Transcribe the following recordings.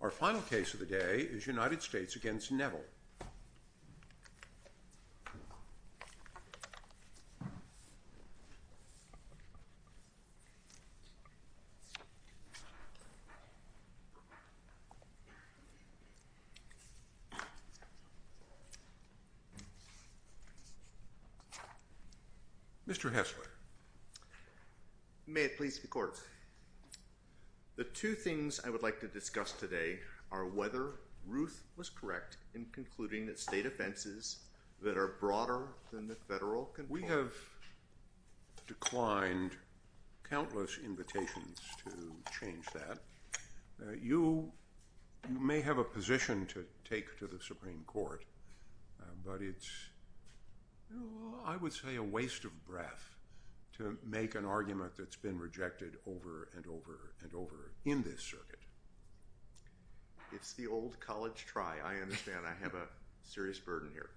Our final case of the day is United States v. Neville. Mr. Hesler. The two things I would like to discuss today are whether Ruth was correct in concluding that state offenses that are broader than the federal control... We have declined countless invitations to change that. You may have a position to take to the Supreme Court, but it's, I would say, a waste of breath to make an argument that's been rejected over and over and over in this circuit. It's the old college try. I understand. I have a serious burden here.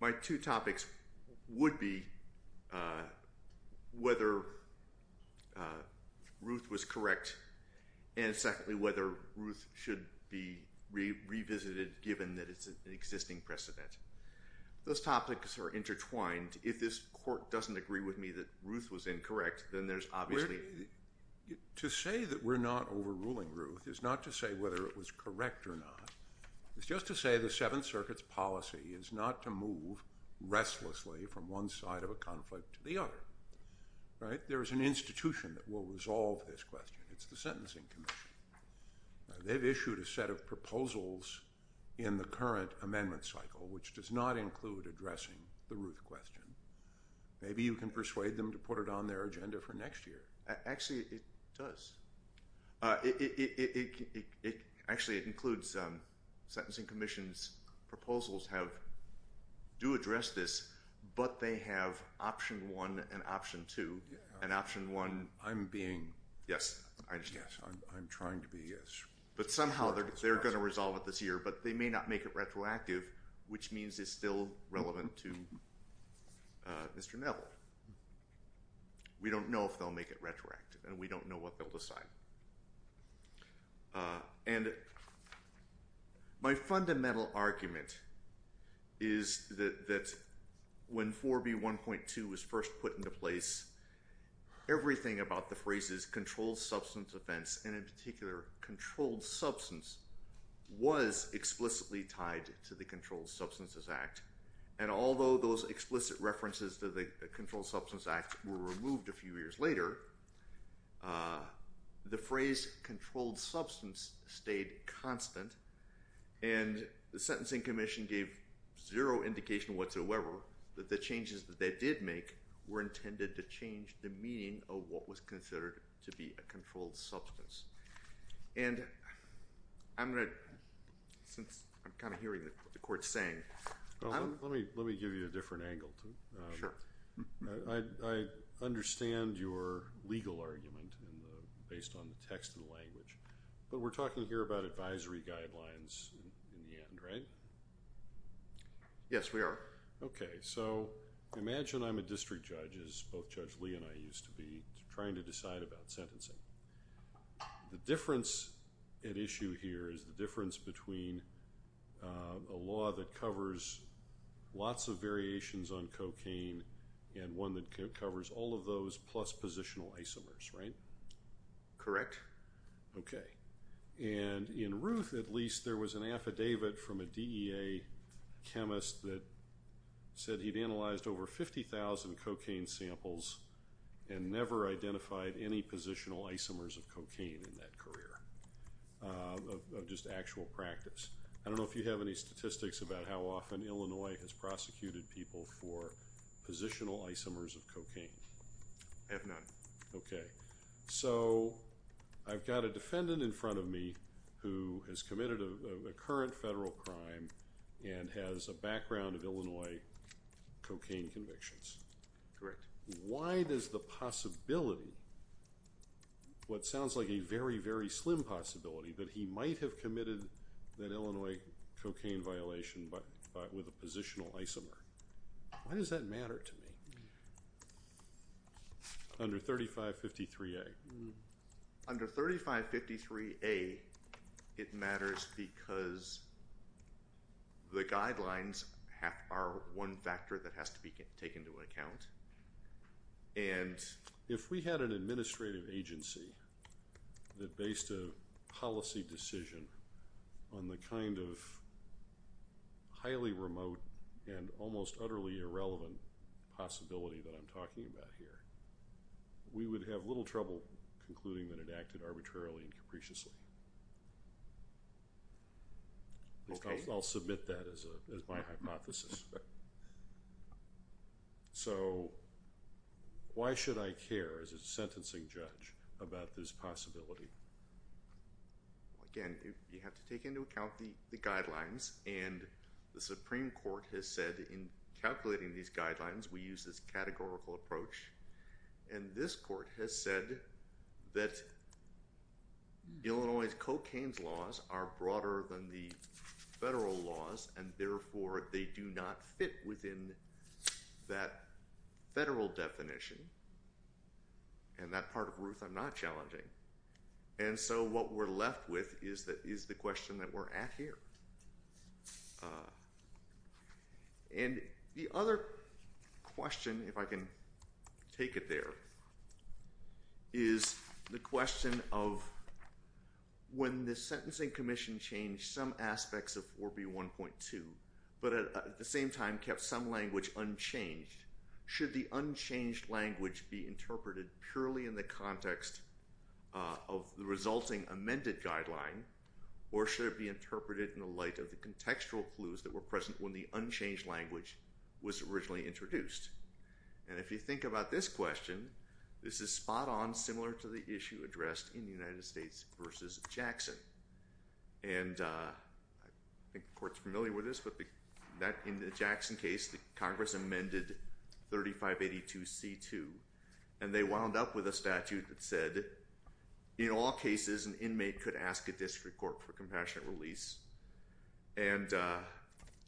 My two topics would be whether Ruth was correct and, secondly, whether Ruth should be revisited given that it's an existing precedent. Those topics are intertwined. If this court doesn't agree with me that Ruth was incorrect, then there's obviously... To say that we're not overruling Ruth is not to say whether it was correct or not. It's just to say the Seventh Circuit's policy is not to move restlessly from one side of a conflict to the other. There is an institution that will resolve this question. It's the Sentencing Commission. They've issued a set of proposals in the current amendment cycle, which does not include addressing the Ruth question. Maybe you can persuade them to put it on their agenda for next year. Actually, it does. Actually, it includes Sentencing Commission's proposals do address this, but they have option one and option two. And option one... I'm being... Yes. I'm trying to be as... But somehow they're going to resolve it this year, but they may not make it retroactive, which means it's still relevant to Mr. Neville. We don't know if they'll make it retroactive, and we don't know what they'll decide. And my fundamental argument is that when 4B1.2 was first put into place, everything about the phrases controlled substance offense, and in particular controlled substance, was explicitly tied to the Controlled Substances Act. And although those explicit references to the Controlled Substances Act were removed a few years later, the phrase controlled substance stayed constant. And the Sentencing Commission gave zero indication whatsoever that the changes that they did make were intended to change the meaning of what was considered to be a controlled substance. And I'm going to... Since I'm kind of hearing what the Court's saying... Well, let me give you a different angle. Sure. I understand your legal argument based on the text of the language, but we're talking here about advisory guidelines in the end, right? Yes, we are. Okay, so imagine I'm a district judge, as both Judge Lee and I used to be, trying to decide about sentencing. The difference at issue here is the difference between a law that covers lots of variations on cocaine and one that covers all of those plus positional isomers, right? Correct. Okay. And in Ruth, at least, there was an affidavit from a DEA chemist that said he'd analyzed over 50,000 cocaine samples and never identified any positional isomers of cocaine in that career of just actual practice. I don't know if you have any statistics about how often Illinois has prosecuted people for positional isomers of cocaine. I have none. Okay. So, I've got a defendant in front of me who has committed a current federal crime and has a background of Illinois cocaine convictions. Correct. Why does the possibility, what sounds like a very, very slim possibility, that he might have committed that Illinois cocaine violation with a positional isomer, why does that matter to me? Under 3553A. Under 3553A, it matters because the guidelines are one factor that has to be taken into account. If we had an administrative agency that based a policy decision on the kind of highly remote and almost utterly irrelevant possibility that I'm talking about here, we would have little trouble concluding that it acted arbitrarily and capriciously. Okay. I'll submit that as my hypothesis. So, why should I care as a sentencing judge about this possibility? Again, you have to take into account the guidelines and the Supreme Court has said in calculating these guidelines, we use this categorical approach. And this court has said that Illinois cocaine's laws are broader than the federal laws and, therefore, they do not fit within that federal definition. And that part of Ruth I'm not challenging. And so, what we're left with is the question that we're at here. And the other question, if I can take it there, is the question of when the sentencing commission changed some aspects of 4B1.2, but at the same time kept some language unchanged, should the unchanged language be interpreted purely in the context of the resulting amended guideline? Or should it be interpreted in the light of the contextual clues that were present when the unchanged language was originally introduced? And if you think about this question, this is spot on similar to the issue addressed in the United States versus Jackson. And I think the court's familiar with this, but in the Jackson case, the Congress amended 3582C2, and they wound up with a statute that said, in all cases, an inmate could ask a district court for compassionate release. And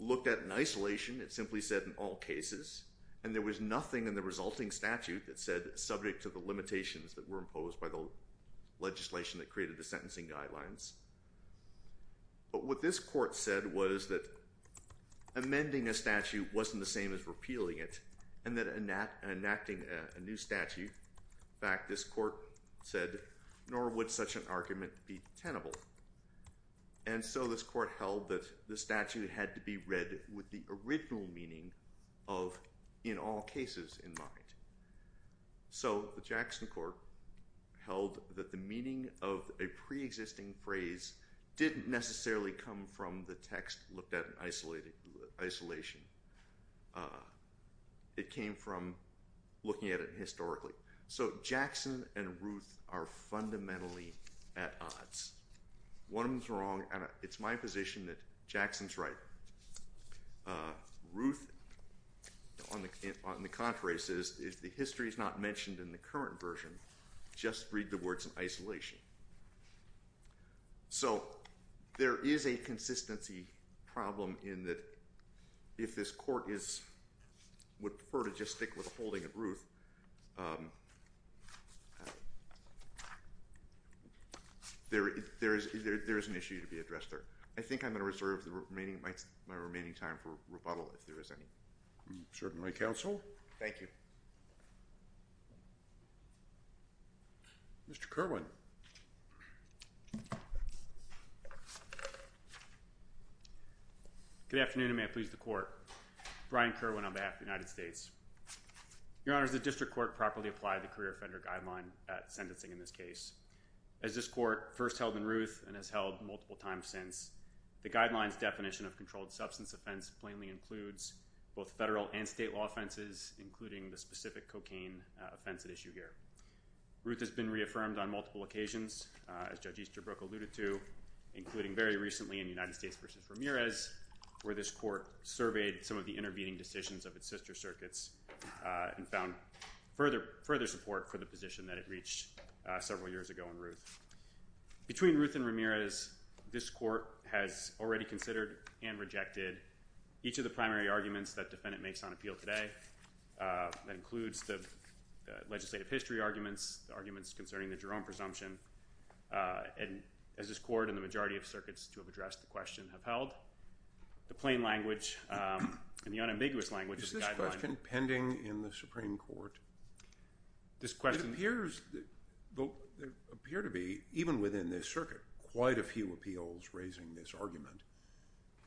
looked at in isolation, it simply said, in all cases, and there was nothing in the resulting statute that said, subject to the limitations that were imposed by the legislation that created the sentencing guidelines. But what this court said was that amending a statute wasn't the same as repealing it, and that enacting a new statute, in fact, this court said, nor would such an argument be tenable. And so this court held that the statute had to be read with the original meaning of, in all cases, in mind. So the Jackson court held that the meaning of a preexisting phrase didn't necessarily come from the text looked at in isolation. It came from looking at it historically. So Jackson and Ruth are fundamentally at odds. One of them's wrong, and it's my position that Jackson's right. Ruth, on the contrary, says, if the history is not mentioned in the current version, just read the words in isolation. So there is a consistency problem in that if this court would prefer to just stick with holding of Ruth, there is an issue to be addressed there. I think I'm going to reserve my remaining time for rebuttal, if there is any. Certainly, counsel. Thank you. Mr. Kerwin. Good afternoon, and may it please the court. Brian Kerwin on behalf of the United States. Your Honors, the district court properly applied the career offender guideline at sentencing in this case. As this court first held in Ruth and has held multiple times since, the guidelines definition of controlled substance offense plainly includes both federal and state law offenses, including the specific cocaine offense at issue here. Ruth has been reaffirmed on multiple occasions, as Judge Easterbrook alluded to, including very recently in United States v. Ramirez, where this court surveyed some of the intervening decisions of its sister circuits and found further support for the position that it reached several years ago in Ruth. Between Ruth and Ramirez, this court has already considered and rejected each of the primary arguments that defendant makes on appeal today. That includes the legislative history arguments, the arguments concerning the Jerome presumption. And as this court and the majority of circuits to have addressed the question have held, the plain language and the unambiguous language of the guideline Is this question pending in the Supreme Court? It appears to be, even within this circuit, quite a few appeals raising this argument.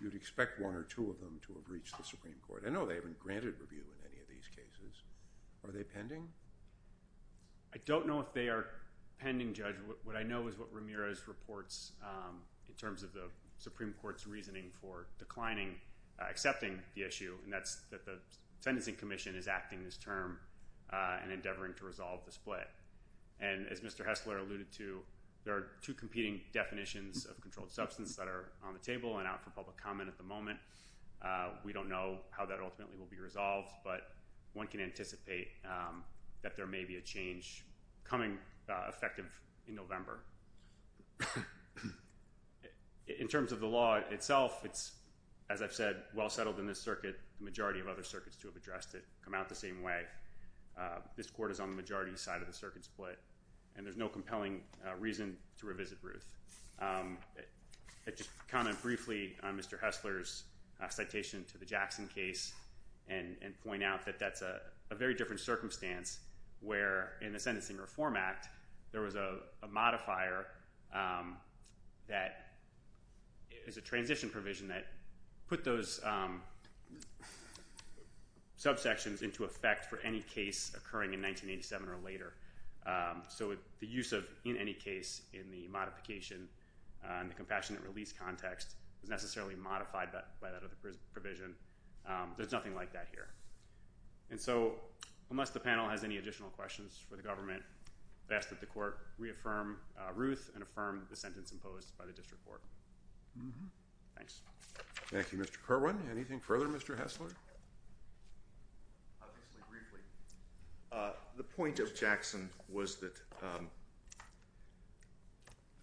You'd expect one or two of them to have reached the Supreme Court. I know they haven't granted review in any of these cases. Are they pending? I don't know if they are pending, Judge. What I know is what Ramirez reports in terms of the Supreme Court's reasoning for declining, accepting the issue, and that's that the Sentencing Commission is acting this term and endeavoring to resolve the split. And as Mr. Hessler alluded to, there are two competing definitions of controlled substance that are on the table and out for public comment at the moment. We don't know how that ultimately will be resolved, but one can anticipate that there may be a change coming effective in November. In terms of the law itself, it's, as I've said, well settled in this circuit. The majority of other circuits to have addressed it come out the same way. This court is on the majority side of the circuit split, and there's no compelling reason to revisit Ruth. I'd just comment briefly on Mr. Hessler's citation to the Jackson case and point out that that's a very different circumstance where in the Sentencing Reform Act there was a modifier that is a transition provision that put those subsections into effect for any case occurring in 1987 or later. So the use of in any case in the modification and the compassionate release context is necessarily modified by that other provision. There's nothing like that here. And so unless the panel has any additional questions for the government, I'd ask that the court reaffirm Ruth and affirm the sentence imposed by the district court. Thanks. Thank you, Mr. Kerwin. Anything further, Mr. Hessler? Briefly. The point of Jackson was that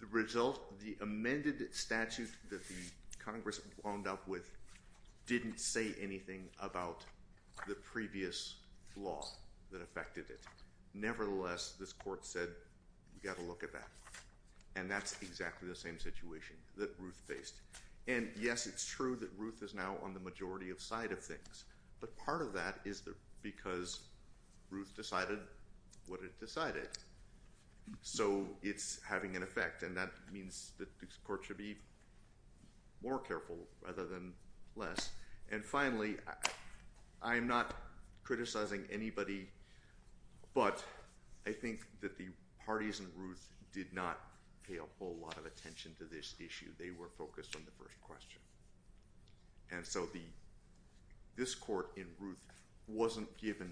the result, the amended statute that the Congress wound up with didn't say anything about the previous law that affected it. Nevertheless, this court said we've got to look at that, and that's exactly the same situation that Ruth faced. And yes, it's true that Ruth is now on the majority side of things, but part of that is because Ruth decided what it decided. So it's having an effect, and that means that this court should be more careful rather than less. And finally, I'm not criticizing anybody, but I think that the parties in Ruth did not pay a whole lot of attention to this issue. They were focused on the first question. And so this court in Ruth wasn't given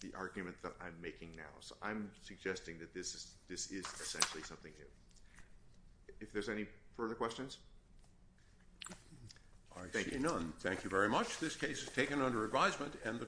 the argument that I'm making now. So I'm suggesting that this is essentially something new. If there's any further questions? I see none. Thank you very much. This case is taken under advisement.